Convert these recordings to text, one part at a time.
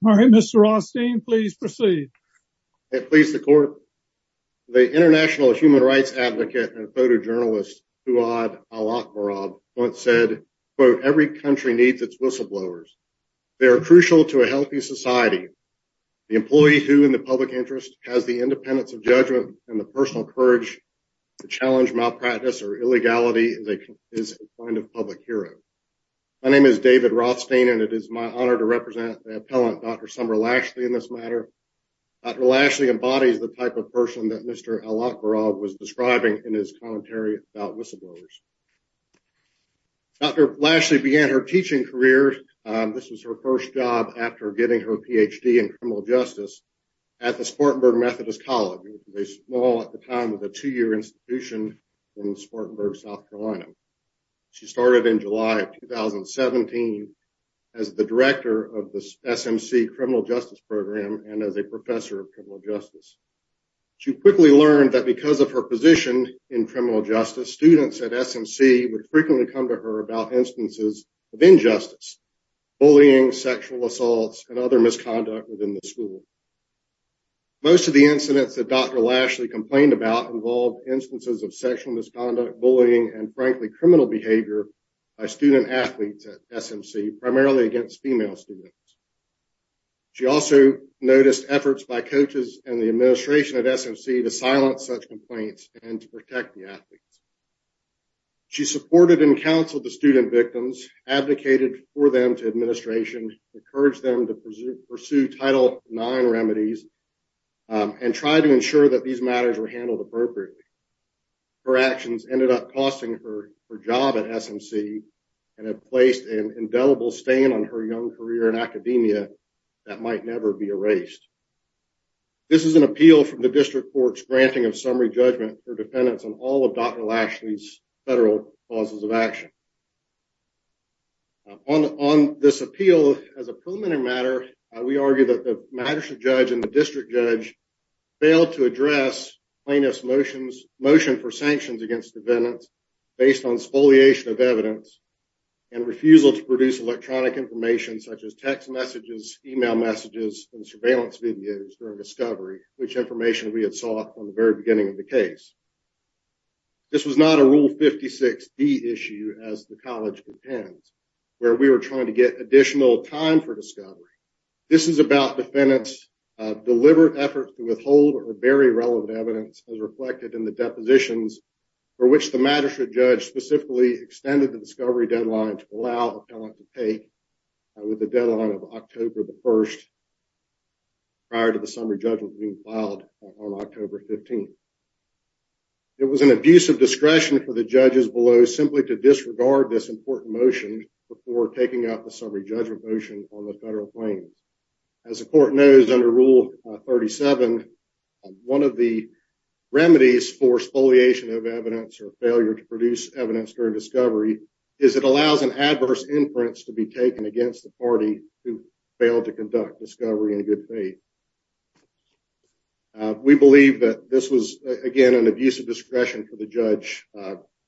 The International Human Rights Advocate and photojournalist, Huwad Al-Akbarab, once said, quote, every country needs its whistleblowers. They are crucial to a healthy society. The employee who, in the public interest, has the independence of judgment and the personal courage to challenge malpractice or illegality is a kind of public hero. My name is David Rothstein and it is my honor to represent the appellant Dr. Summer Lashley in this matter. Dr. Lashley embodies the type of person that Mr. Al-Akbarab was describing in his commentary about whistleblowers. Dr. Lashley began her teaching career, this was her first job after getting her PhD in criminal justice, at the Spartanburg Methodist College, a small at the time of a two-year institution in Spartanburg, South Carolina. She started in July of 2017 as the director of the SMC criminal justice program and as a professor of criminal justice. She quickly learned that because of her position in criminal justice, students at SMC would frequently come to her about instances of injustice, bullying, sexual assaults, and other misconduct within the school. Most of the incidents that Dr. Lashley complained about involved instances of sexual misconduct, bullying, and frankly criminal behavior by student athletes at SMC, primarily against female students. She also noticed efforts by coaches and the administration at SMC to silence such advocated for them to administration, encouraged them to pursue Title IX remedies, and tried to ensure that these matters were handled appropriately. Her actions ended up costing her her job at SMC and have placed an indelible stain on her young career in academia that might never be erased. This is an appeal from the district court's granting of summary judgment for dependence on all of Dr. Lashley's federal clauses of action. On this appeal, as a preliminary matter, we argue that the magistrate judge and the district judge failed to address plaintiff's motion for sanctions against defendants based on spoliation of evidence and refusal to produce electronic information such as text messages, email messages, and surveillance videos during discovery, which information we had sought from the very beginning of the case. This was not a Rule 56B issue, as the college intends, where we were trying to get additional time for discovery. This is about defendants' deliberate efforts to withhold or bury relevant evidence as reflected in the depositions for which the magistrate judge specifically extended the discovery deadline to allow a 15th. It was an abuse of discretion for the judges below simply to disregard this important motion before taking out the summary judgment motion on the federal claim. As the court knows under Rule 37, one of the remedies for spoliation of evidence or failure to produce evidence during discovery is it allows an adverse inference to be taken against the party who failed to conduct discovery in good faith. We believe that this was, again, an abuse of discretion for the judge,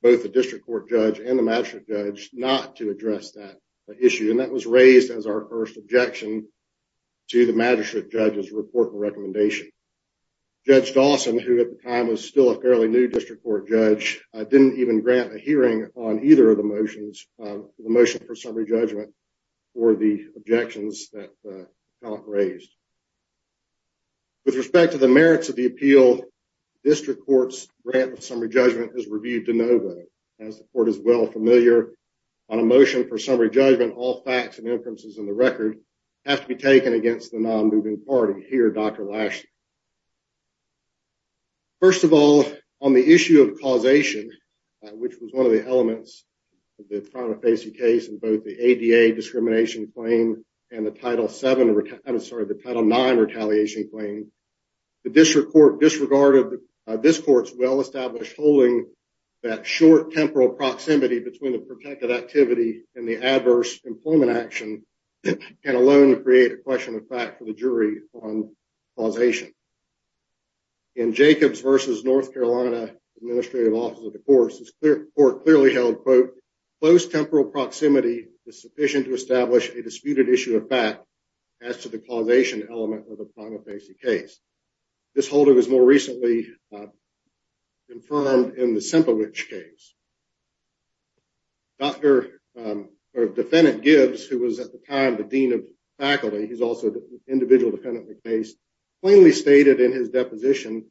both the district court judge and the magistrate judge, not to address that issue, and that was raised as our first objection to the magistrate judge's report and recommendation. Judge Dawson, who at the time was still a fairly new district court judge, didn't even grant a hearing on either of the motions, the motion for summary judgment, or the objections that the appellant raised. With respect to the merits of the appeal, the district court's grant of summary judgment is reviewed de novo. As the court is well familiar, on a motion for summary judgment, all facts and inferences in the record have to be taken against the non-moving party. Here, Dr. Lashley. First of all, on the issue of causation, which was one of the elements of the prima facie case in both the ADA discrimination claim and the Title VII, I'm sorry, the Title IX retaliation claim, the district court disregarded this court's well-established holding that short temporal proximity between the protected activity and the adverse employment action, and alone to create a effect for the jury on causation. In Jacobs v. North Carolina Administrative Office of the Courts, this court clearly held, quote, close temporal proximity is sufficient to establish a disputed issue of fact as to the causation element of the prima facie case. This holding was more recently confirmed in the Sempovich case. Defendant Gibbs, who was at the time the individual defendant in the case, plainly stated in his deposition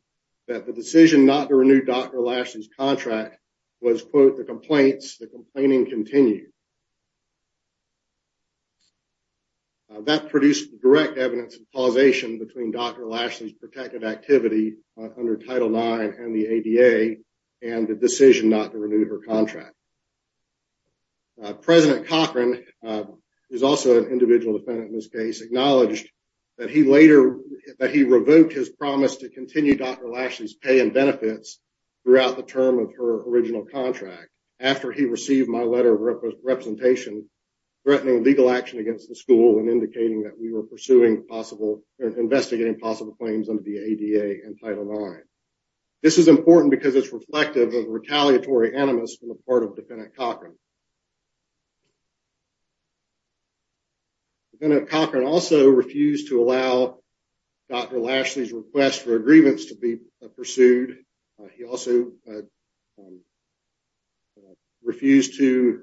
that the decision not to renew Dr. Lashley's contract was, quote, the complaints, the complaining continued. That produced direct evidence of causation between Dr. Lashley's protected activity under Title IX and the ADA and the decision not to renew her contract. Now, President Cochran, who is also an individual defendant in this case, acknowledged that he later, that he revoked his promise to continue Dr. Lashley's pay and benefits throughout the term of her original contract after he received my letter of representation threatening legal action against the school and indicating that we were pursuing possible, investigating possible claims under the ADA and Title IX. This is important because it's retaliatory animus on the part of Defendant Cochran. Defendant Cochran also refused to allow Dr. Lashley's request for a grievance to be pursued. He also refused to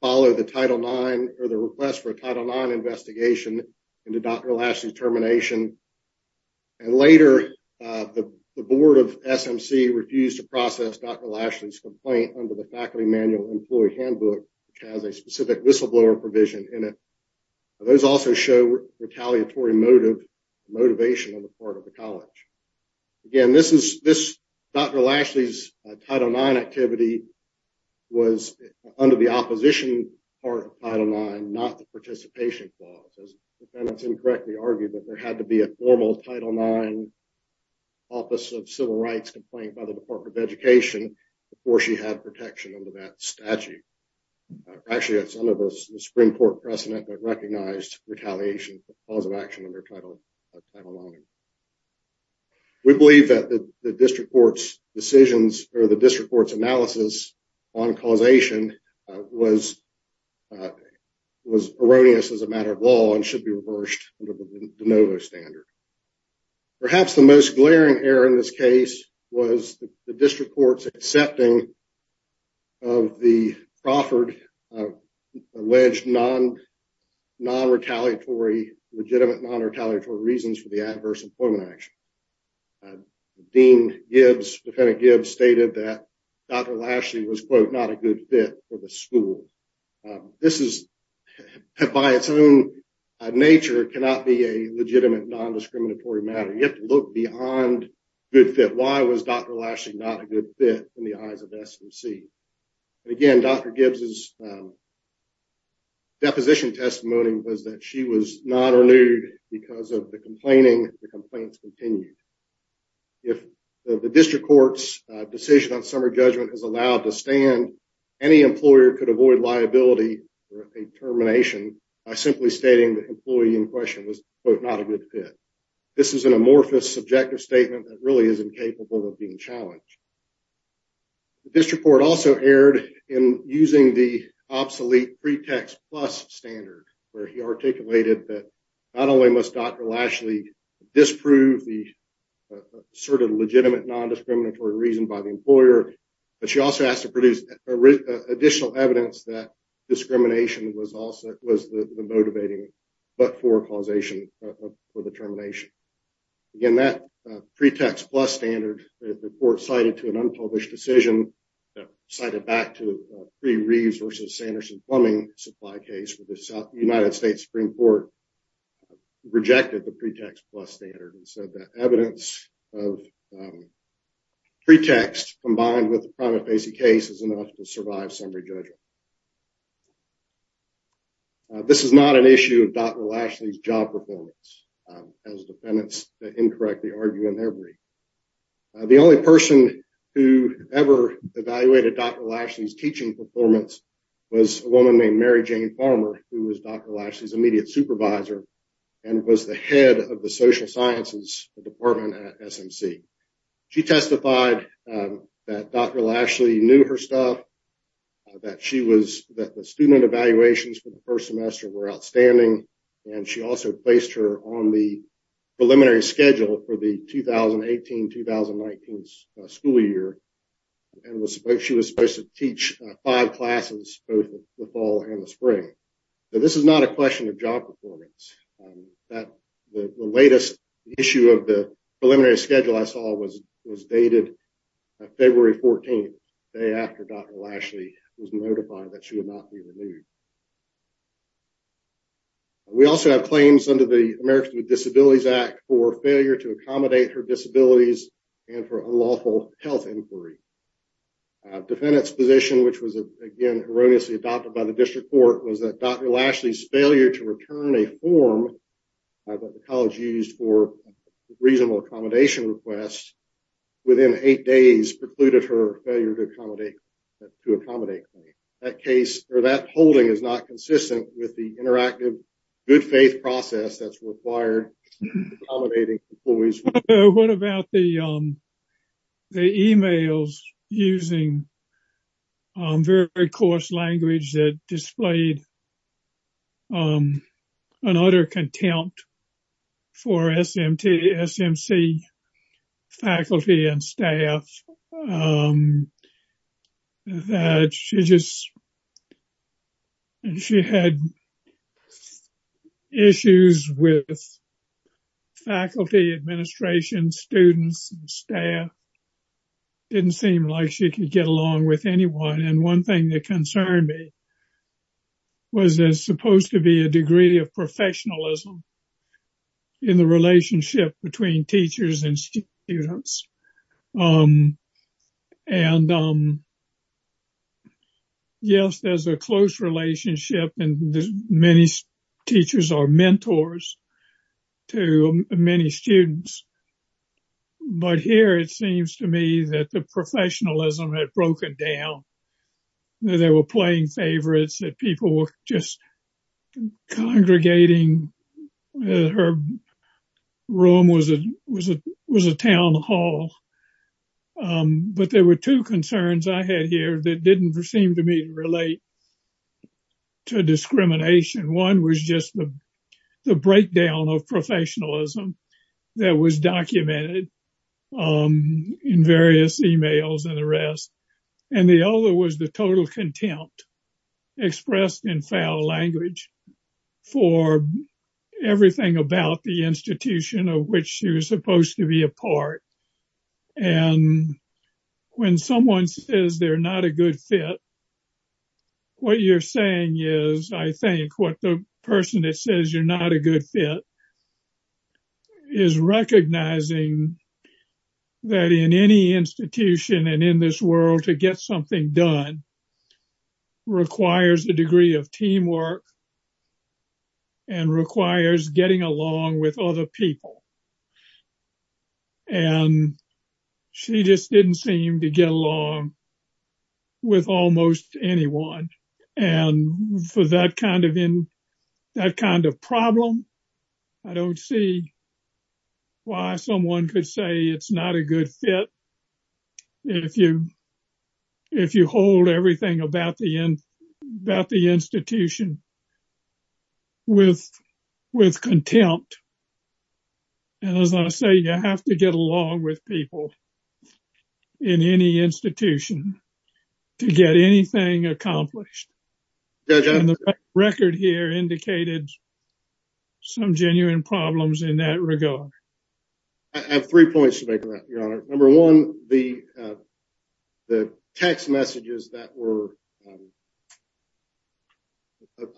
follow the Title IX or the request for a Title IX investigation into Dr. Lashley's termination. And later, the Board of SMC refused to process Dr. Lashley's complaint under the Faculty Manual Employee Handbook, which has a specific whistleblower provision in it. Those also show retaliatory motive, motivation on the part of the college. Again, this is, this Dr. Lashley's Title IX activity was under the opposition part of Title IX, not the participation clause. As defendants incorrectly argued that there had to be a formal Title IX Office of Civil Rights complaint by the Department of Education before she had protection under that statute. Actually, that's under the Supreme Court precedent that recognized retaliation for cause of action under Title IX. We believe that the district court's decisions or the district court's analysis on causation was erroneous as a matter of law and should be reversed under the de novo standard. Perhaps the most glaring error in this case was the district court's accepting of the Crawford alleged non-retaliatory, legitimate non-retaliatory reasons for the adverse employment action. Dean Gibbs, Defendant Gibbs stated that Dr. Lashley was quote, not a good fit for the school. This is by its own nature cannot be a legitimate non-discriminatory matter. You have to look beyond good fit. Why was Dr. Lashley not a good fit in the eyes of SMC? Again, Dr. Gibbs's deposition testimony was that she was not renewed because of the complaining. The complaints continued. If the district court's decision on summer judgment is allowed to stand, any employer could avoid liability for a termination by simply stating the employee in question was quote, not a good fit. This is an amorphous subjective statement that really is incapable of being challenged. The district court also erred in using the obsolete pretext plus standard where he articulated that not only must Dr. Lashley disprove the sort of legitimate non-discriminatory reason by the employer, but she also has to produce additional evidence that discrimination was also was the motivating but for causation for the termination. Again, that pretext plus standard, the court cited to an unpublished decision that cited back to the Reeves versus Sanderson plumbing supply case with the South United States Supreme Court rejected the pretext plus standard and said that evidence of pretext combined with the primate facing case is enough to survive summary judgment. This is not an issue of Dr. Lashley's job performance as defendants that incorrectly argue in their brief. The only person who ever evaluated Dr. Lashley's teaching performance was a woman named Mary Jane Farmer who was Dr. Lashley's immediate supervisor and was the head of the social sciences department at SMC. She testified that Dr. Lashley knew her stuff, that she was that the student evaluations for the first semester were outstanding, and she also placed her on the preliminary schedule for the 2018-2019 school year and was supposed she was supposed to teach five classes both the fall and the spring. This is not a question of job performance. That the latest issue of the preliminary schedule I saw was was dated February 14th, the day after Dr. Lashley was notified that she would not be removed. We also have claims under the Americans with Disabilities Act for failure to accommodate her disabilities and for unlawful health inquiry. Defendant's position which was again erroneously adopted by the district court was that Dr. Lashley's failure to return a form that the college used for reasonable accommodation requests within eight days precluded her failure to accommodate to accommodate claim. That case or that holding is not consistent with the interactive good faith process that's required for accommodating employees. What about the emails using very coarse language that displayed an utter contempt for SMC faculty and staff that she just had. She had issues with faculty, administration, students, and staff. Didn't seem like she could get along with anyone, and one thing that concerned me was there supposed to be a degree of professionalism in the relationship between teachers and students. Yes, there's a close relationship and many teachers are mentors to many students, but here it seems to me that the professionalism had broken down. They were playing favorites that people were just congregating. Her room was a town hall, but there were two concerns I had here that didn't seem to me to relate to discrimination. One was just the breakdown of professionalism that was documented in various emails and the rest, and the other was the total contempt expressed in foul language for everything about the institution of which she was supposed to be a part. And when someone says they're not a good fit, what you're saying is I think what the person that says you're not a good fit is recognizing that in any institution and in this world, to get something done requires a degree of teamwork and requires getting along with other people. And she just didn't seem to get along with almost anyone. And for that kind of problem, I don't see why someone could say it's not a good fit if you hold everything about the institution with contempt. And as I say, you have to get along with people in any institution to get anything accomplished. And the record here indicated some genuine problems in that regard. I have three points to make on that, Your Honor. Number one, the text messages that were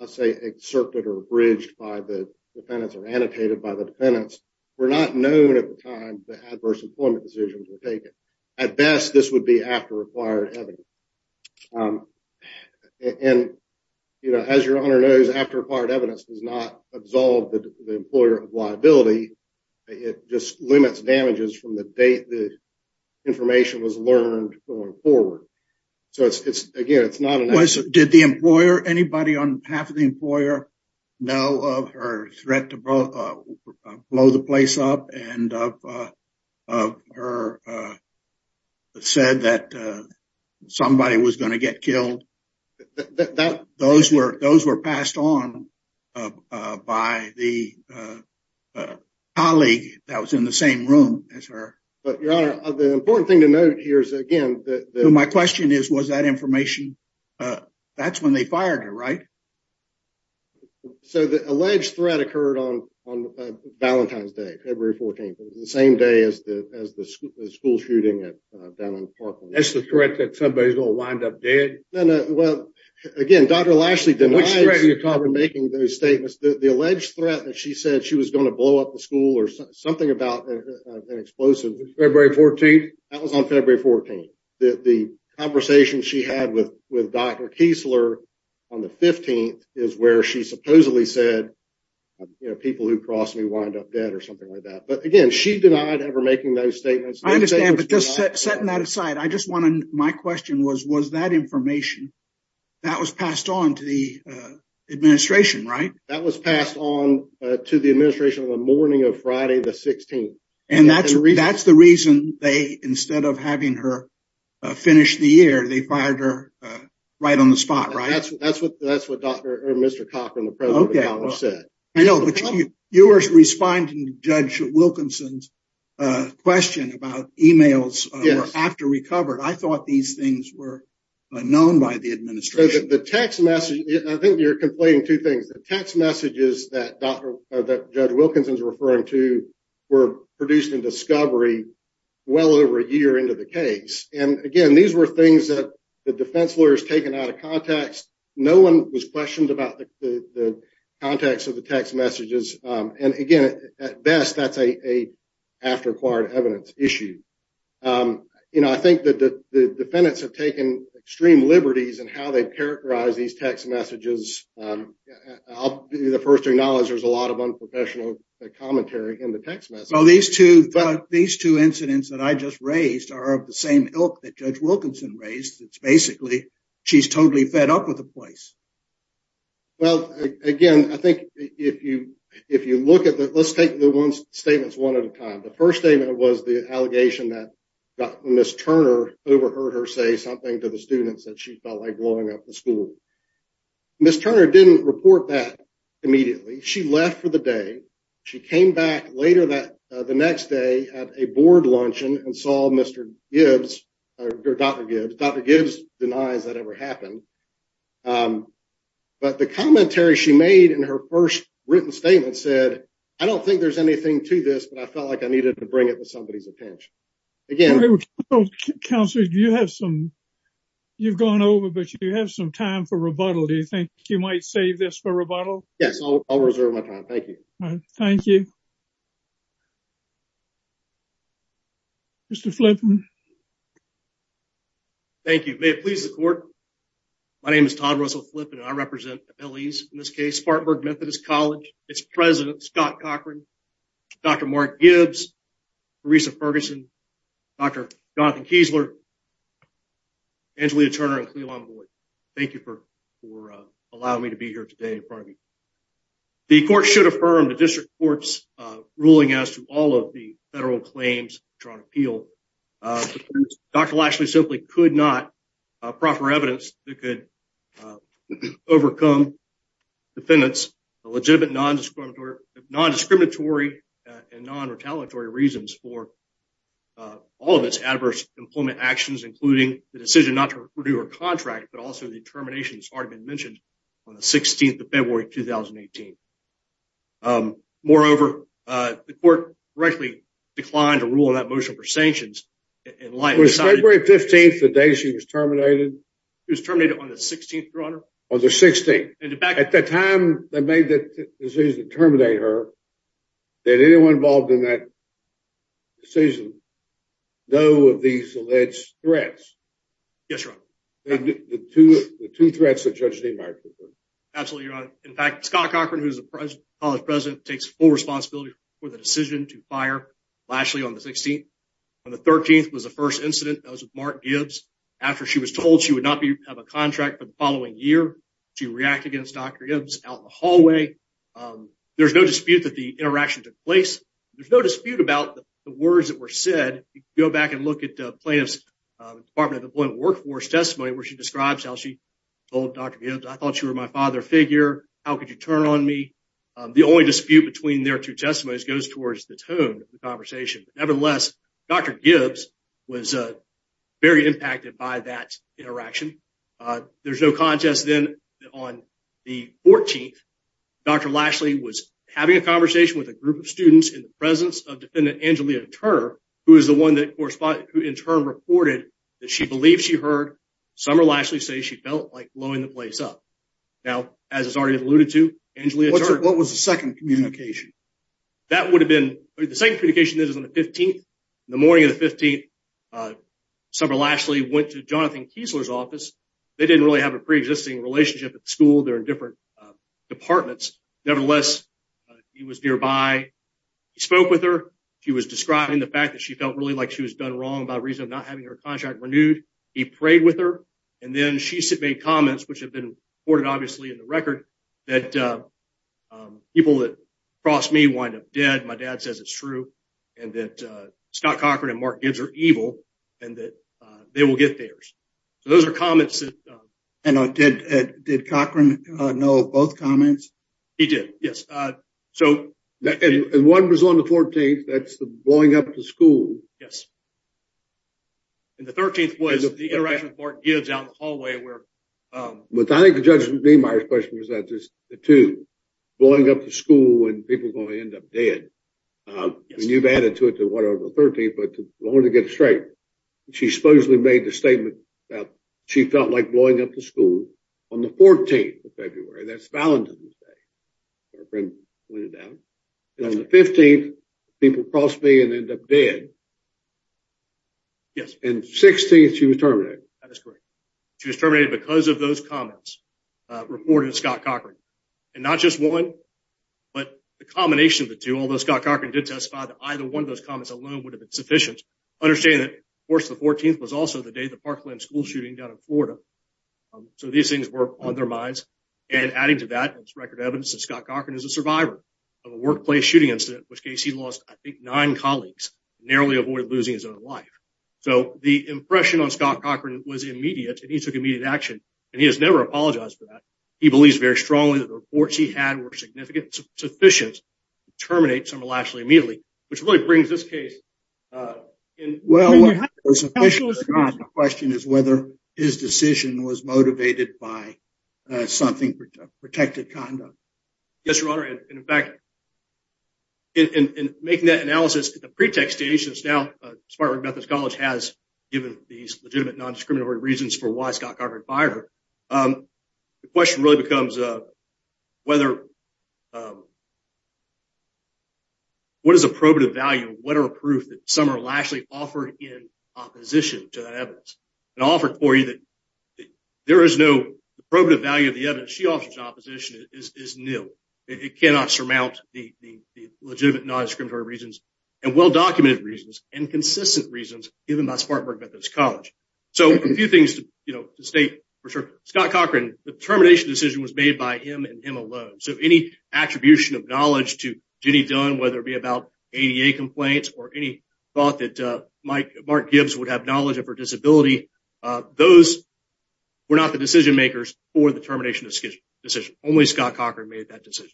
I'll say excerpted or bridged by the defendants or annotated by the defendants were not known at the time the adverse employment decisions were taken. At best, this would be after required evidence. And as Your Honor knows, after required evidence does not absolve the employer of liability. It just limits damages from the date the did the employer, anybody on behalf of the employer know of her threat to blow the place up and of her said that somebody was going to get killed. Those were passed on by the colleague that was in the same room as her. But Your Honor, the important thing to note here is my question is, was that information? That's when they fired her, right? So the alleged threat occurred on Valentine's Day, February 14th, the same day as the school shooting down in Parkland. That's the threat that somebody's going to wind up dead? No, no. Well, again, Dr. Lashley denies making those statements. The alleged threat that she said she was going to blow up the school or something about an explosive. February 14th? That was on February 14th. The conversation she had with Dr. Kiesler on the 15th is where she supposedly said, you know, people who cross me wind up dead or something like that. But again, she denied ever making those statements. I understand, but just setting that aside, I just wanted my question was, was that information that was passed on to the administration, right? That was passed on to the administration on the morning of Friday, the 16th. And that's the reason they, instead of having her finish the year, they fired her right on the spot, right? That's what Dr. or Mr. Cochran, the president of the college said. I know, but you were responding to Judge Wilkinson's question about emails after recovered. I thought these things were known by the administration. The text message, I think you're complaining two things. The text messages that Judge Wilkinson's referring to were produced in discovery well over a year into the case. And again, these were things that the defense lawyers taken out of context. No one was questioned about the context of the text messages. And again, at best, that's a after acquired evidence issue. You know, I think that the defendants have taken extreme liberties in how they characterize these text messages. I'll be the first to acknowledge there's a lot of unprofessional commentary in the text message. So these two incidents that I just raised are of the same ilk that Judge Wilkinson raised. It's basically, she's totally fed up with the place. Well, again, I think if you look at the, let's take the statements one at a time. The first statement was the allegation that Ms. Turner overheard her say something to the students that she felt like blowing up the school. Ms. Turner didn't report that immediately. She left for the day. She came back later that the next day at a board luncheon and saw Mr. Gibbs or Dr. Gibbs. Dr. Gibbs denies that ever happened. But the commentary she made in her first written statement said, I don't think there's anything to this, but I felt like I needed to bring it to somebody's attention. Again. Counselor, you have some, you've gone over, but you have some time for rebuttal. Do you think you might save this for rebuttal? Yes, I'll reserve my time. Thank you. Thank you. Mr. Flippen. Thank you. May it please the court. My name is Todd Russell Flippen and I represent LEs in this case, Spartanburg Methodist College. It's President Scott Cochran, Dr. Mark Gibbs, Marisa Ferguson, Dr. Jonathan Kiesler, Angelina Turner, and Cleveland Boyd. Thank you for allowing me to be here today in front of you. The court should affirm the district court's ruling as to all of the federal claims drawn appeal. Dr. Lashley simply could not, proper evidence that could overcome defendants, the legitimate non-discriminatory and non-retaliatory reasons for all of its adverse employment actions, including the decision not to review her contract, but also the termination that's already been mentioned on the 16th of February, 2018. Moreover, the court directly declined to rule on that motion for sanctions. Was February 15th the day she was terminated? She was terminated on the 16th, your honor. On the 16th. At the time they made the decision to terminate her, did anyone involved in that decision know of these alleged threats? Yes, your honor. The two threats that Judge DeMark referred to? Absolutely, your honor. In fact, Scott Cochran, who's the college president, takes full responsibility for the decision to fire Lashley on the 16th. On the 13th was the first incident that was with Mark Gibbs. After she was told she would not have a contract for the following year, she reacted against Dr. Gibbs out in the hallway. There's no dispute that the interaction took place. There's no dispute about the words that were said. You can go back and look at plaintiff's Department of Employment and Workforce testimony where she describes how she told Dr. Gibbs, I thought you were my father figure. How could you turn on me? The only dispute between their two testimonies goes towards the tone of the conversation. Nevertheless, Dr. Gibbs was very impacted by that interaction. There's no contest then on the 14th, Dr. Lashley was having a conversation with a group of students in the presence of Defendant Angelia Turner, who is the one who in turn reported that she believed she heard Summer Lashley say she felt like blowing the place up. Now, as has already alluded to, Angelia Turner- What was the second communication? That would have been the same communication that is on the 15th. In the morning of the 15th, Summer Lashley went to Jonathan Kiesler's office. They didn't really have a pre-existing relationship at school. They're in different departments. Nevertheless, he was nearby. He spoke with her. She was describing the fact that she felt really like she was done wrong by reason of not having her contract renewed. He prayed with her and then she made comments which have been reported in the record that people that cross me wind up dead. My dad says it's true and that Scott Cochran and Mark Gibbs are evil and that they will get theirs. Those are comments that- Did Cochran know of both comments? He did, yes. One was on the 14th. That's the blowing up the school. Yes. The 13th was the interaction with Mark Gibbs out in the hallway where- I think the judge's question was not just the two. Blowing up the school and people going to end up dead. You've added to it the one on the 13th, but to get it straight, she supposedly made the statement that she felt like blowing up the school on the 14th of February. That's Valentine's Day. Her friend pointed it out. On the 15th, people cross me and end up dead. Yes. And 16th, she was terminated. That is correct. She was terminated because of those comments reported in Scott Cochran. And not just one, but the combination of the two, although Scott Cochran did testify that either one of those comments alone would have been sufficient. Understanding that, of course, the 14th was also the day of the Parkland school shooting down in Florida. So these things were on their minds. And adding to that, there's record evidence that Scott Cochran is a survivor of a workplace shooting incident, in which case he lost, I think, nine colleagues, narrowly avoided losing his own life. So the impression on Scott Cochran was immediate, and he took immediate action. And he has never apologized for that. He believes very strongly that the reports he had were significant and sufficient to terminate Summer Lashley immediately, which really brings this case. Well, the question is whether his decision was motivated by something protected conduct. Yes, Your Honor. And in fact, in making that analysis, the pretext to H.S. now, Spartanburg Methodist College has given these legitimate non-discriminatory reasons for why Scott Cochran fired her. The question really becomes whether, what is the probative value, what are proof that Summer Lashley offered in opposition to that evidence, and offered for you that there is no probative value of the evidence she offers in opposition is nil. It cannot surmount the legitimate non-discriminatory reasons and well-documented reasons and consistent reasons given by Spartanburg Methodist College. So a few things to state for sure. Scott Cochran, the termination decision was made by him and him alone. So any attribution of knowledge to Jenny Dunn, whether it be about ADA complaints or any thought that Mark Gibbs would have knowledge of her disability, those were not the decision makers for the termination decision. Only Scott Cochran made that decision.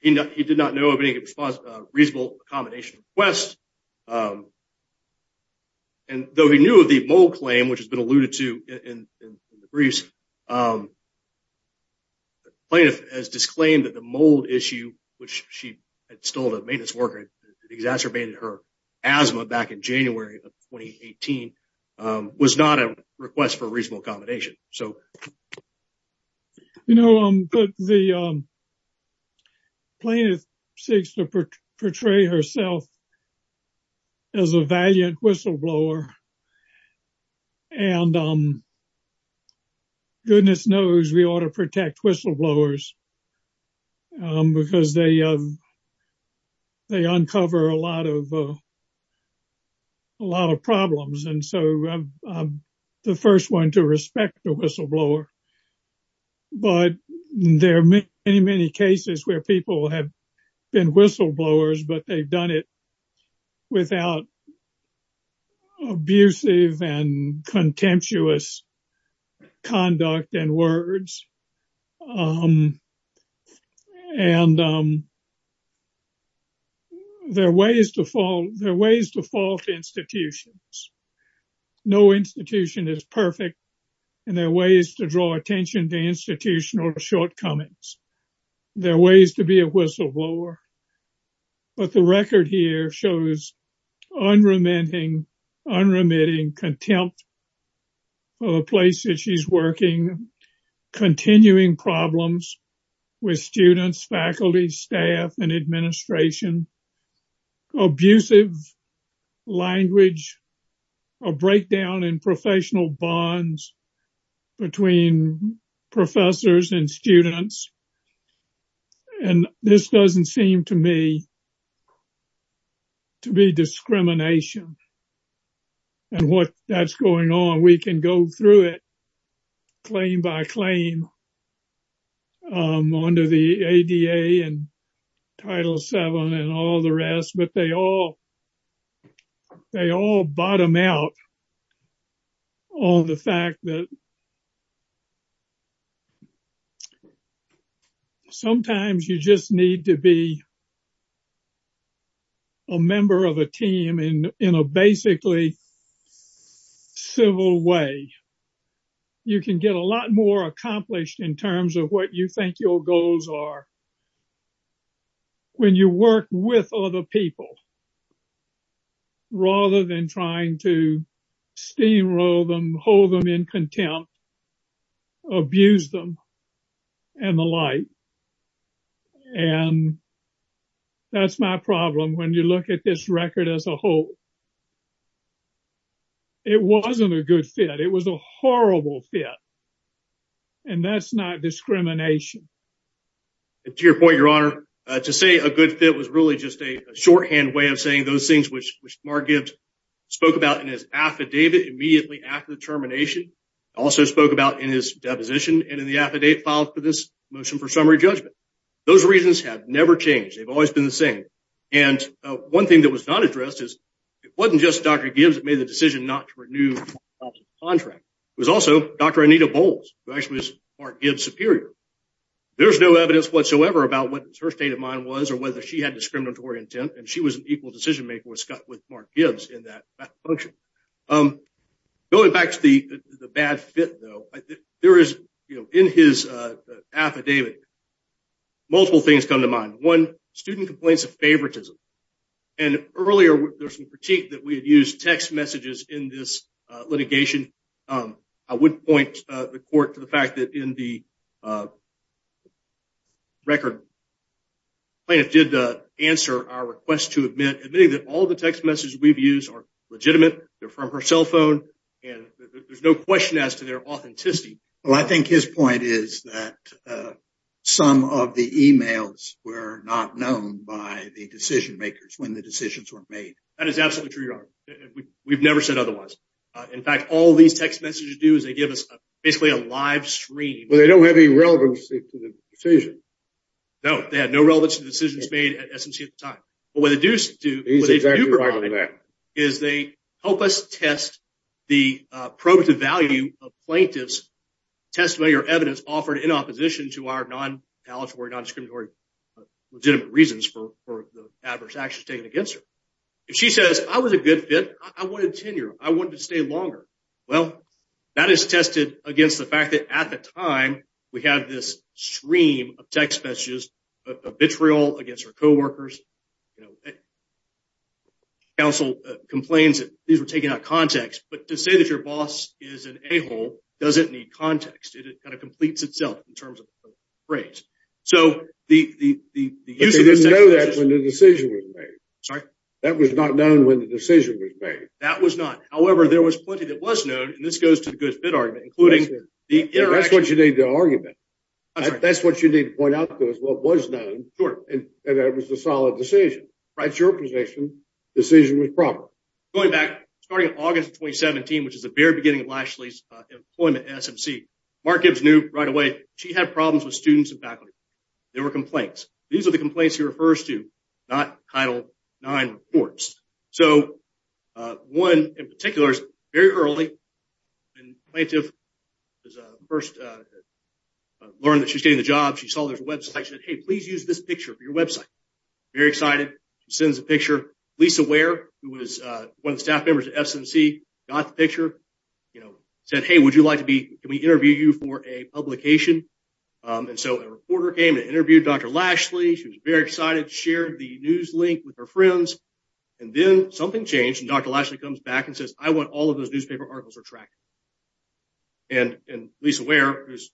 He did not know of any reasonable accommodation request. And though he knew of the mold claim, which has been alluded to in the briefs, the plaintiff has disclaimed that the mold issue, which she had stolen a maintenance worker, exacerbated her asthma back in January of 2018, was not a request for reasonable accommodation. So, you know, the plaintiff seeks to portray herself as a valiant whistleblower, and goodness knows we ought to protect whistleblowers because they uncover a lot of whistleblowers. But there are many, many cases where people have been whistleblowers, but they've done it without abusive and contemptuous conduct and words. And there are ways to fault institutions. No institution is perfect, and there are ways to draw attention to institutional shortcomings. There are ways to be a whistleblower. But the record here shows unremitting contempt of a place that she's working, continuing problems with students, faculty, staff, and a breakdown in professional bonds between professors and students. And this doesn't seem to me to be discrimination and what that's going on. We can go through it claim by claim under the ADA and Title VII and all the rest, but they all bottom out on the fact that sometimes you just need to be a member of a team in a basically civil way. You can get a lot more accomplished in terms of what you think your goals are when you work with other people rather than trying to steamroll them, hold them in contempt, abuse them, and the like. And that's my problem when you look at this record as a whole. It wasn't a good fit. It was a horrible fit. And that's not discrimination. To your point, Your Honor, to say a good fit was really just a shorthand way of saying those things which Mark Gibbs spoke about in his affidavit immediately after the termination, also spoke about in his deposition and in the affidavit filed for this motion for summary judgment. Those reasons have never changed. They've always been the same. And one thing that was not addressed is it wasn't just Dr. Gibbs that made the decision not to renew the contract. It was also Dr. Anita Bowles, who actually was Mark Gibbs' superior. There's no evidence whatsoever about what her state of mind was or whether she had discriminatory intent, and she was an equal decision maker with Mark Gibbs in that function. Going back to the bad fit, though, in his affidavit, multiple things come to mind. One, student complaints of favoritism. And earlier, there was some critique that we had used text messages in this litigation. I would point the court to the fact that in the record, plaintiff did answer our request to admit, admitting that all the text messages we've used are legitimate, they're from her cell phone, and there's no question as to their authenticity. Well, I think his point is that some of the emails were not known by the decision makers when the decisions were made. That is absolutely true, Your Honor. We've never said otherwise. In fact, all these text messages do is they give us basically a live stream. Well, they don't have any relevance to the decision. No, they had no relevance to the decisions made at SMC at the time. But what they do provide is they help us test the probative value of plaintiff's testimony or evidence offered in opposition to our non-palliatory, non-discriminatory, legitimate reasons for the adverse actions taken against her. If she says, I was a good fit, I wanted tenure, I wanted to stay longer. Well, that is tested against the fact that at the time, we had this stream of text messages, vitriol against her co-workers. Council complains that these were taken out of context, but to say that your boss is an a-hole doesn't need context. It kind of completes itself in terms of the phrase. So the use of the text messages... But they didn't know that when the decision was made. Sorry? That was not known when the decision was made. That was not. However, there was plenty that was known, and this goes to the good fit argument, including the interaction... That's what you need to argument. That's what you need to point out, though, is what was known. Sure. And that was a solid decision. Right. It's your position. Decision was proper. Going back, starting in August of 2017, which is the very beginning of Lashley's employment at SMC, Mark Gibbs knew right away she had problems with students and faculty. There were complaints. These are the complaints he refers to, not Title IX reports. So, one in particular is very early, and plaintiff first learned that she was getting the job. She saw there's a website. She said, hey, please use this picture for your website. Very excited. She sends a picture. Lisa Ware, who was one of the staff members at SMC, got the picture. Said, hey, would you like to be... Can we interview you for a publication? And so a reporter came and interviewed Dr. Lashley. She was very excited. Shared the news link with her friends. And then something changed, and Dr. Lashley comes back and says, I want all of those newspaper articles retracted. And Lisa Ware, who at the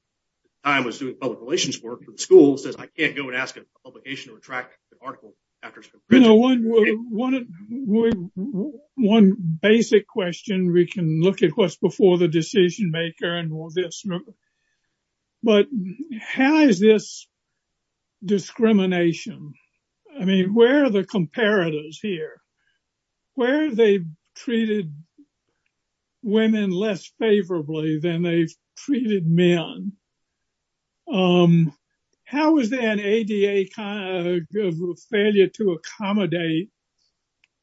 time was doing public relations work for the school, says, I can't go and ask a publication to retract an article after it's been printed. One basic question, we can look at what's for the decision maker and all this. But how is this discrimination? I mean, where are the comparators here? Where are they treated women less favorably than they've treated men? How is there an ADA failure to accommodate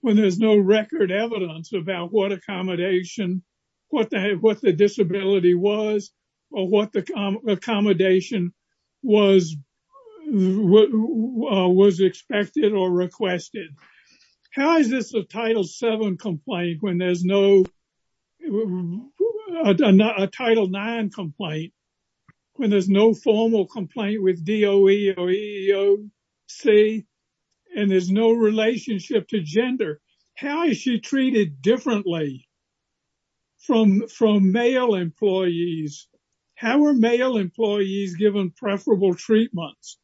when there's no record evidence about what accommodation, what the disability was, or what the accommodation was expected or requested? How is this a Title VII complaint when there's no... A Title IX complaint when there's no formal complaint with DOE or EEOC, and there's no relationship to gender? How is she treated differently from male employees? How are male employees given preferable treatments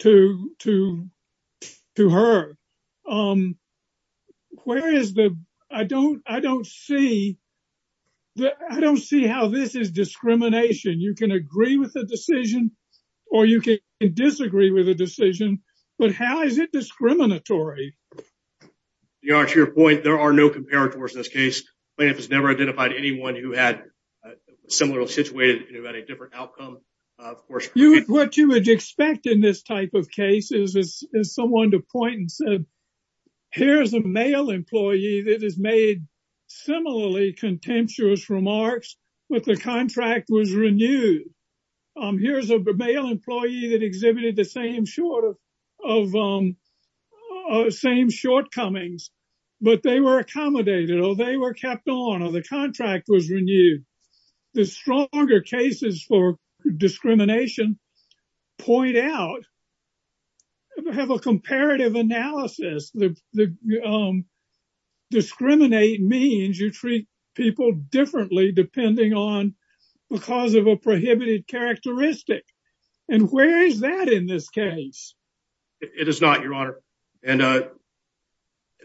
to her? I don't see how this is discrimination. You can agree with a decision, or you can disagree with a decision, but how is it discriminatory? To your point, there are no comparators in this case. Plaintiff has never identified anyone who had a similar situation and had a different outcome. What you would expect in this type of case is someone to point and say, here's a male employee that has made similarly contemptuous remarks, but the contract was renewed. Here's a male employee that exhibited the same sort of or same shortcomings, but they were accommodated, or they were kept on, or the contract was renewed. The stronger cases for discrimination point out, have a comparative analysis. Discriminate means you treat people differently depending on because of a prohibited characteristic. Where is that in this case? It is not, your honor. The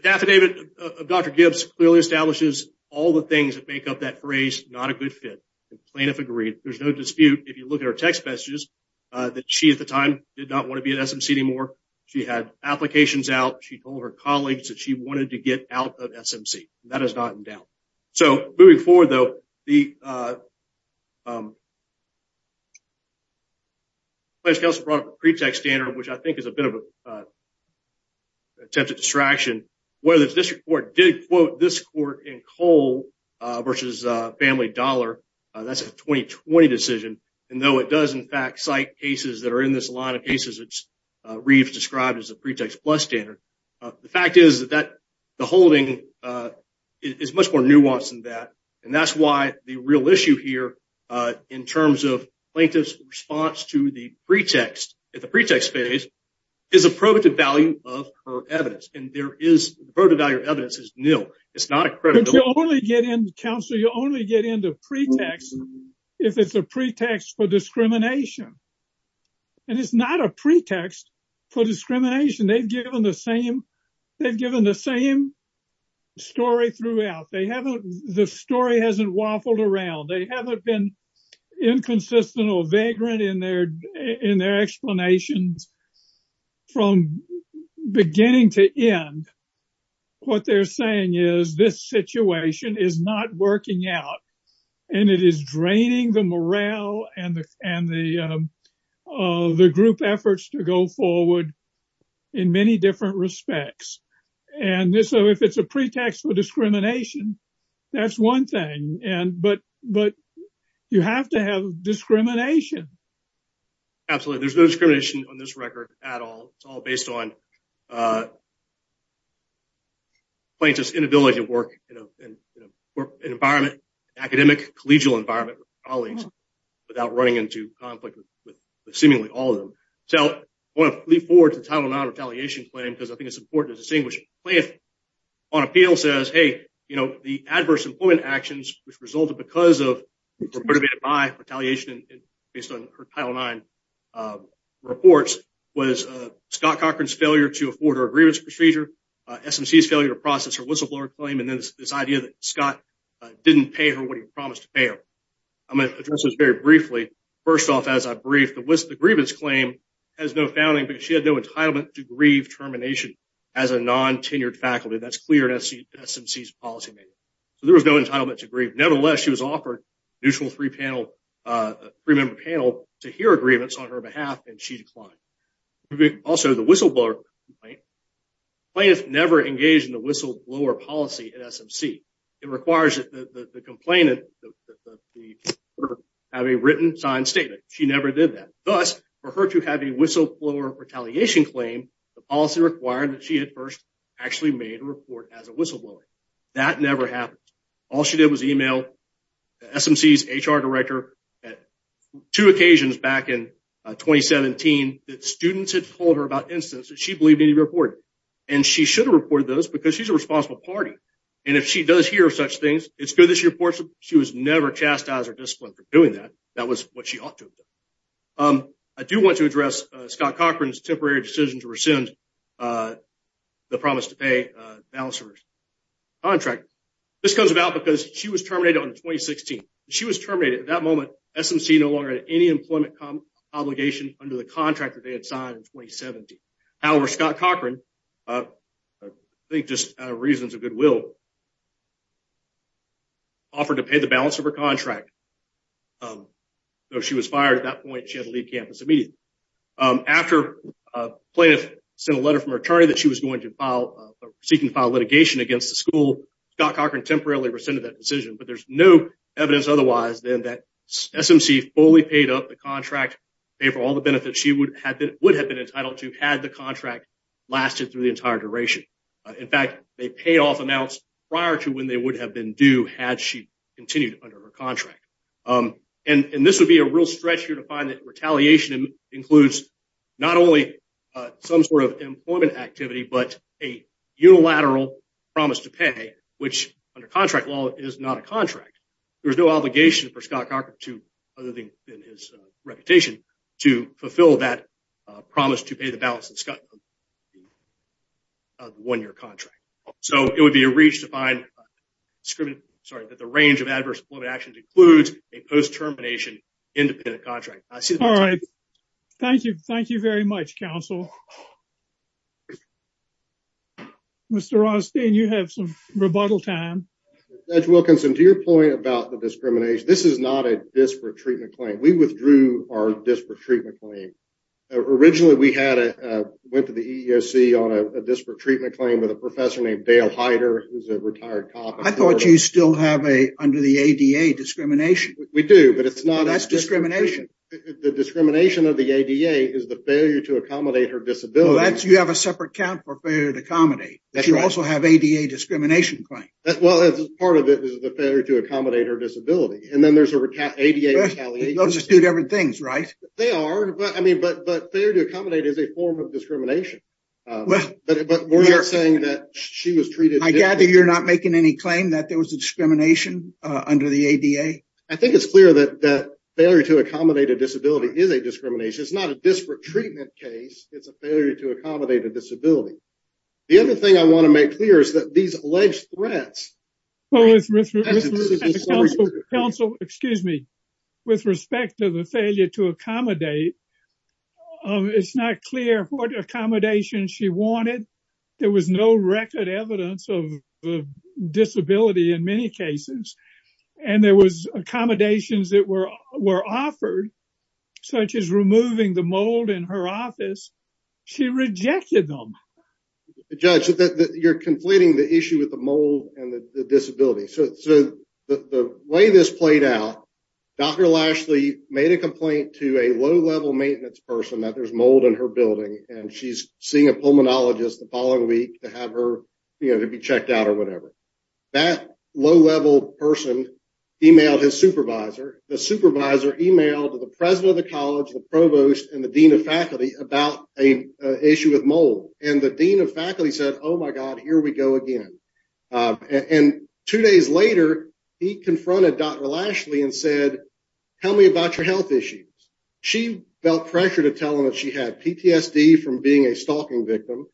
affidavit of Dr. Gibbs clearly establishes all the things that make up that phrase, not a good fit. The plaintiff agreed. There's no dispute. If you look at her text messages, that she at the time did not want to be at SMC anymore. She had applications out. She told her colleagues that she wanted to get out of SMC. That is not in doubt. Moving forward though, the plaintiff's counsel brought up a pretext standard, which I think is a bit of a attempt at distraction. Whether the district court did quote this court in Cole versus Family Dollar, that's a 2020 decision, and though it does in fact cite cases that are in this line of cases that Reeves described as a pretext plus standard, the fact is that the holding is much more nuanced than that. That's why the real issue here in terms of plaintiff's response to the pretext at the pretext phase is a probative value of her evidence. The probative value of evidence is nil. Counsel, you only get into pretext if it's a pretext for discrimination. It's not a pretext for discrimination. They've given the same story throughout. The story hasn't waffled around. They haven't been inconsistent or vagrant in their explanations from beginning to end. What they're saying is this situation is not working out, and it is draining the morale and the group efforts to go forward in many different respects. So if it's a pretext for discrimination, that's one thing, but you have to have discrimination. Absolutely. There's no discrimination on this record at all. It's all based on plaintiff's inability to work in an academic collegial environment with colleagues without running into conflict with seemingly all of them. So I want to leap forward to Title IX claim because I think it's important to distinguish. Plaintiff on appeal says, hey, you know, the adverse employment actions which resulted because of or motivated by retaliation based on her Title IX reports was Scott Cochran's failure to afford her grievance procedure, SMC's failure to process her whistleblower claim, and then this idea that Scott didn't pay her what he promised to pay her. I'm going to address this very briefly. First off, the grievance claim has no founding because she had no entitlement to grieve termination as a non-tenured faculty. That's clear in SMC's policymaking. So there was no entitlement to grieve. Nevertheless, she was offered a neutral three-member panel to hear agreements on her behalf, and she declined. Also, the whistleblower complaint, plaintiff never engaged in the Thus, for her to have a whistleblower retaliation claim, the policy required that she at first actually made a report as a whistleblower. That never happened. All she did was email SMC's HR director at two occasions back in 2017 that students had told her about incidents that she believed needed reporting, and she should have reported those because she's a responsible party, and if she does hear such things, it's good that she reports them. She was never chastised or I do want to address Scott Cochran's temporary decision to rescind the promise to pay balance of her contract. This comes about because she was terminated on 2016. She was terminated at that moment. SMC no longer had any employment obligation under the contract that they had signed in 2017. However, Scott Cochran, I think just reasons of goodwill, offered to pay the balance of her contract. So, she was fired at that point. She had to leave campus immediately. After plaintiff sent a letter from her attorney that she was going to file, seeking to file litigation against the school, Scott Cochran temporarily rescinded that decision, but there's no evidence otherwise than that SMC fully paid up the contract, paid for all the benefits she would have been entitled to had the contract lasted through the entire duration. In fact, they pay off amounts prior to when they would have been due had she continued under her contract. And this would be a real stretch here to find that retaliation includes not only some sort of employment activity, but a unilateral promise to pay, which under contract law is not a contract. There's no obligation for Scott Cochran to, other than his reputation, to fulfill that promise to pay the balance of Scott Cochran's one-year contract. So, it would be a reach to find that the range of adverse employment actions includes a post-termination independent contract. All right. Thank you. Thank you very much, counsel. Mr. Rothstein, you have some rebuttal time. Judge Wilkinson, to your point about the discrimination, this is not a disparate treatment claim. We withdrew our disparate treatment claim. Originally, we went to the EEOC on a disparate treatment claim with a professor named Dale Heider, who's a retired cop. I thought you still have, under the ADA, discrimination. We do, but it's not. That's discrimination. The discrimination of the ADA is the failure to accommodate her disability. Well, you have a separate account for failure to accommodate, but you also have ADA discrimination claims. Well, part of it is the failure to accommodate her disability. And then there's the ADA retaliation. Those are two different things, right? They are, but failure to accommodate is a form of discrimination. But we're not saying that she was treated differently. I gather you're not making any claim that there was a discrimination under the ADA? I think it's clear that failure to accommodate a disability is a discrimination. It's not a disparate treatment case. It's a failure to accommodate a disability. The other thing I want to make clear is that these alleged accommodations, it's not clear what accommodations she wanted. There was no record evidence of disability in many cases. And there was accommodations that were offered, such as removing the mold in her office. She rejected them. Judge, you're conflating the issue with the mold and the disability. So the way this played out, Dr. Lashley made a complaint to a low-level maintenance person that there's mold in her building, and she's seeing a pulmonologist the following week to have her, you know, to be checked out or whatever. That low-level person emailed his supervisor. The supervisor emailed the president of the college, the provost, and the dean of faculty about an issue with mold. And the dean of faculty said, oh my God, here we go again. And two days later, he confronted Dr. Lashley and said, tell me about your health issues. She felt pressure to tell him that she had PTSD from being a stalking victim,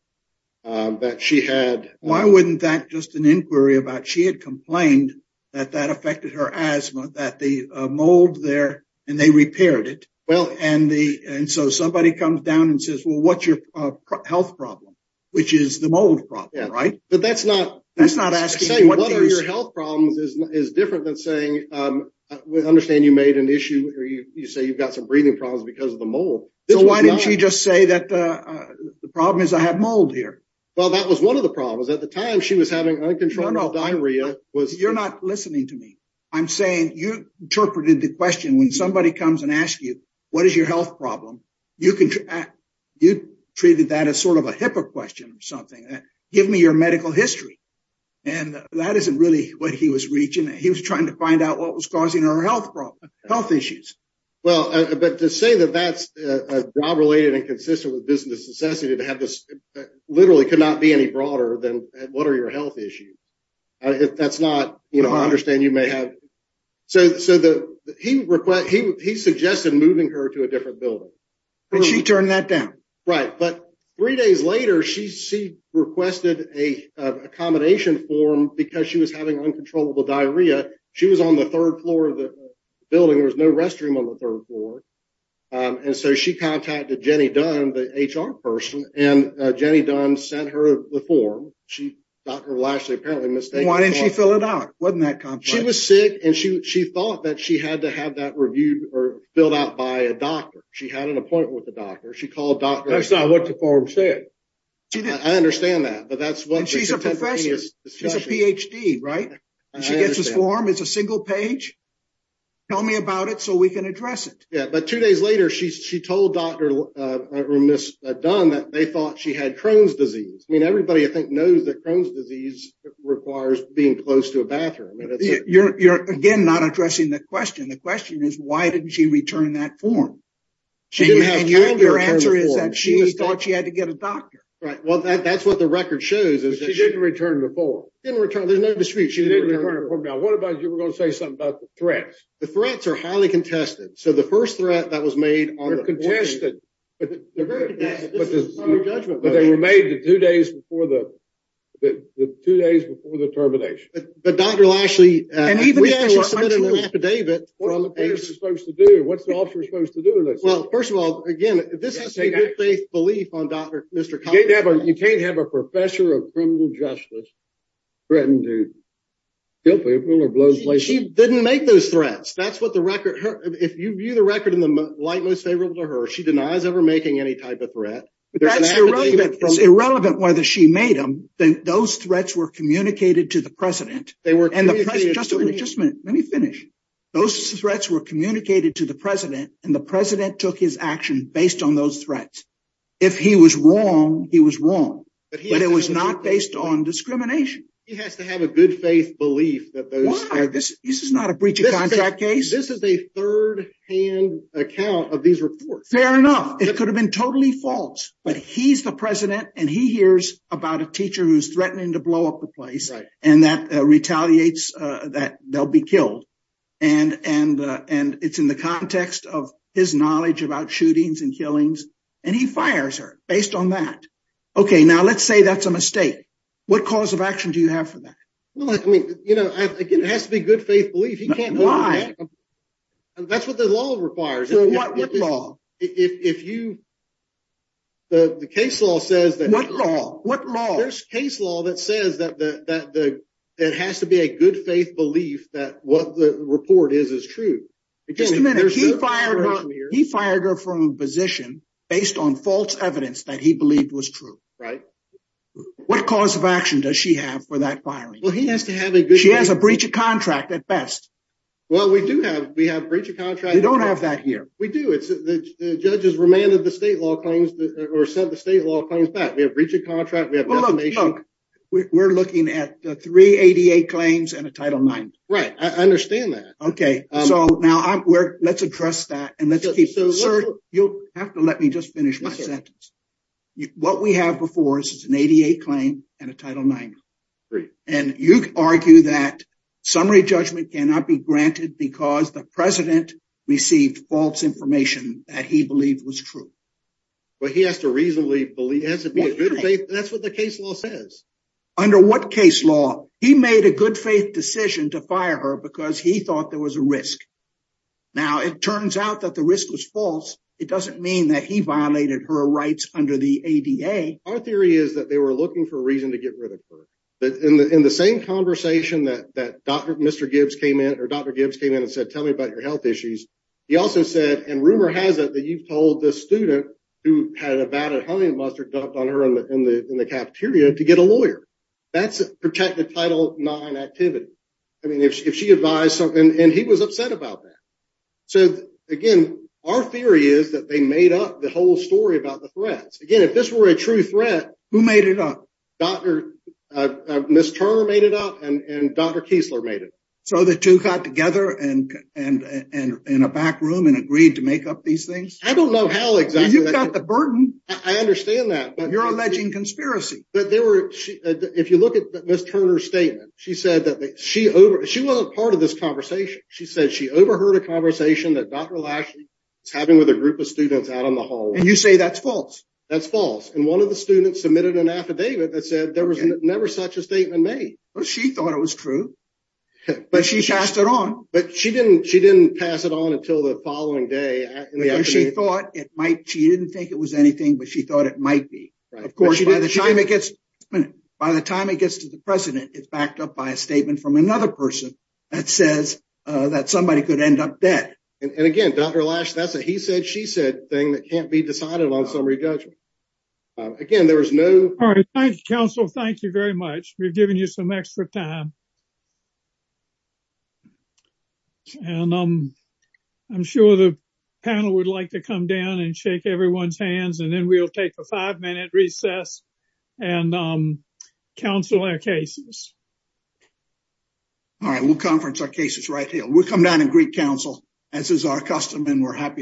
that she had... Why wouldn't that just an inquiry about she had complained that that affected her asthma, that the mold there, and they repaired it. And so somebody comes down and says, well, what's your health problem, which is the mold problem, right? But that's not... That's not asking what is... You say you've got some breathing problems because of the mold. So why didn't she just say that the problem is I have mold here? Well, that was one of the problems. At the time, she was having uncontrolled diarrhea. You're not listening to me. I'm saying you interpreted the question when somebody comes and asks you, what is your health problem? You treated that as sort of a HIPAA question or something. Give me your medical history. And that isn't really what he was reaching. He was trying to find out what was causing her health problem, health issues. Well, but to say that that's a job-related and consistent with business necessity to have this literally could not be any broader than what are your health issues? That's not... I understand you may have... So he suggested moving her to a different building. But she turned that down. Right. But three days later, she requested an accommodation form because she was having uncontrollable diarrhea. She was on the third floor of the building. There was no restroom on the third floor. And so she contacted Jenny Dunn, the HR person, and Jenny Dunn sent her the form. She... Dr. Lashley apparently mistakenly... Why didn't she fill it out? Wasn't that complex? She was sick, and she thought that she had to have that reviewed or filled out by a doctor. She had an appointment with the doctor. She called Dr. Lashley. That's not what the form said. I understand that, but that's what... And she's a professor. She's a PhD, right? She gets this form. It's a single page. Tell me about it so we can address it. Yeah. But two days later, she told Dr. Dunn that they thought she had Crohn's disease. I mean, everybody I think knows that Crohn's disease requires being close to a bathroom. You're again not addressing the question. The question is why didn't she return that form? She didn't have time to return the form. Your answer is that she thought she had to get a doctor. Right. Well, that's what the record shows is that she... She didn't return the form. There's no dispute. She didn't return the form. Now, what about you were going to say something about the threats? The threats are highly contested. So the first threat that was made... They're contested. But they were made the two days before the termination. But Dr. Lashley... What's the officer supposed to do in this? Well, first of all, again, this is a good faith belief on Dr. Mr. Collins. You can't have a professor of criminal justice threaten to kill people or blow places. She didn't make those threats. That's what the record... If you view the record in the light most favorable to her, she denies ever making any type of threat. That's irrelevant. It's irrelevant whether she made them. Those threats were communicated to the president. And the president... Just a minute. Let me finish. Those threats were communicated to the president and the president took his action based on those threats. If he was wrong, he was wrong. But it was not based on discrimination. He has to have a good faith belief that those... Why? This is not a breach of contact case. This is a third hand account of these reports. Fair enough. It could have been totally false. But he's the president and he hears about a teacher who's threatening to blow up the place and that retaliates that they'll be killed. And it's in the context of his knowledge about shootings and killings. And he fires her based on that. Okay. Now let's say that's a mistake. What cause of action do you have for that? Well, I mean, it has to be good faith belief. He can't... Why? That's what the law requires. So what law? If you... The case law says that... What law? There's a case law that says that it has to be a good faith belief that what the report is, is true. Just a minute. He fired her from a position based on false evidence that he believed was true. Right. What cause of action does she have for that firing? Well, he has to have a good... She has a breach of contract at best. Well, we do have a breach of contract. We don't have that here. We do. The judges remanded the state law claims or sent the state law claims back. Breach of contract, we have... We're looking at the 388 claims and a Title IX. Right. I understand that. Okay. So now let's address that and let's keep... Sir, you'll have to let me just finish my sentence. What we have before us is an 88 claim and a Title IX. And you argue that summary judgment cannot be granted because the president received false information that he believed was true. But he has to reasonably believe... He has to be a good faith... That's what the case law says. Under what case law? He made a good faith decision to fire her because he thought there was a risk. Now, it turns out that the risk was false. It doesn't mean that he violated her rights under the ADA. Our theory is that they were looking for a reason to get rid of her. In the same conversation that Dr. Gibbs came in and said, tell me about your health issues. He also said, and rumor has it that you've told this student who had about a honey mustard dumped on her in the cafeteria to get a lawyer. That's a protected Title IX activity. I mean, if she advised... And he was upset about that. So again, our theory is that they made up the whole story about the threats. Again, if this were a true threat... Who made it up? Ms. Turner made it up and Dr. Kiesler made it up. So the two got together in a back room and agreed to make up these things? I don't know how exactly... You've got the burden. I understand that, but... You're alleging conspiracy. But there were... If you look at Ms. Turner's statement, she said that she wasn't part of this conversation. She said she overheard a conversation that Dr. Lashley was having with a group of students out on the hallway. And you say that's false? That's false. And one of the students submitted an affidavit that said there was never such a thing. But she passed it on. But she didn't pass it on until the following day. She thought it might... She didn't think it was anything, but she thought it might be. Of course, by the time it gets to the president, it's backed up by a statement from another person that says that somebody could end up dead. And again, Dr. Lashley, that's a he said, she said thing that can't be decided on summary judgment. Again, there was no... All right. Thank you, counsel. Thank you very much. We've given you some extra time. And I'm sure the panel would like to come down and shake everyone's hands, and then we'll take a five-minute recess and counsel our cases. All right. We'll conference our cases right here. We'll come down and greet counsel, as is our custom, and we're happy to...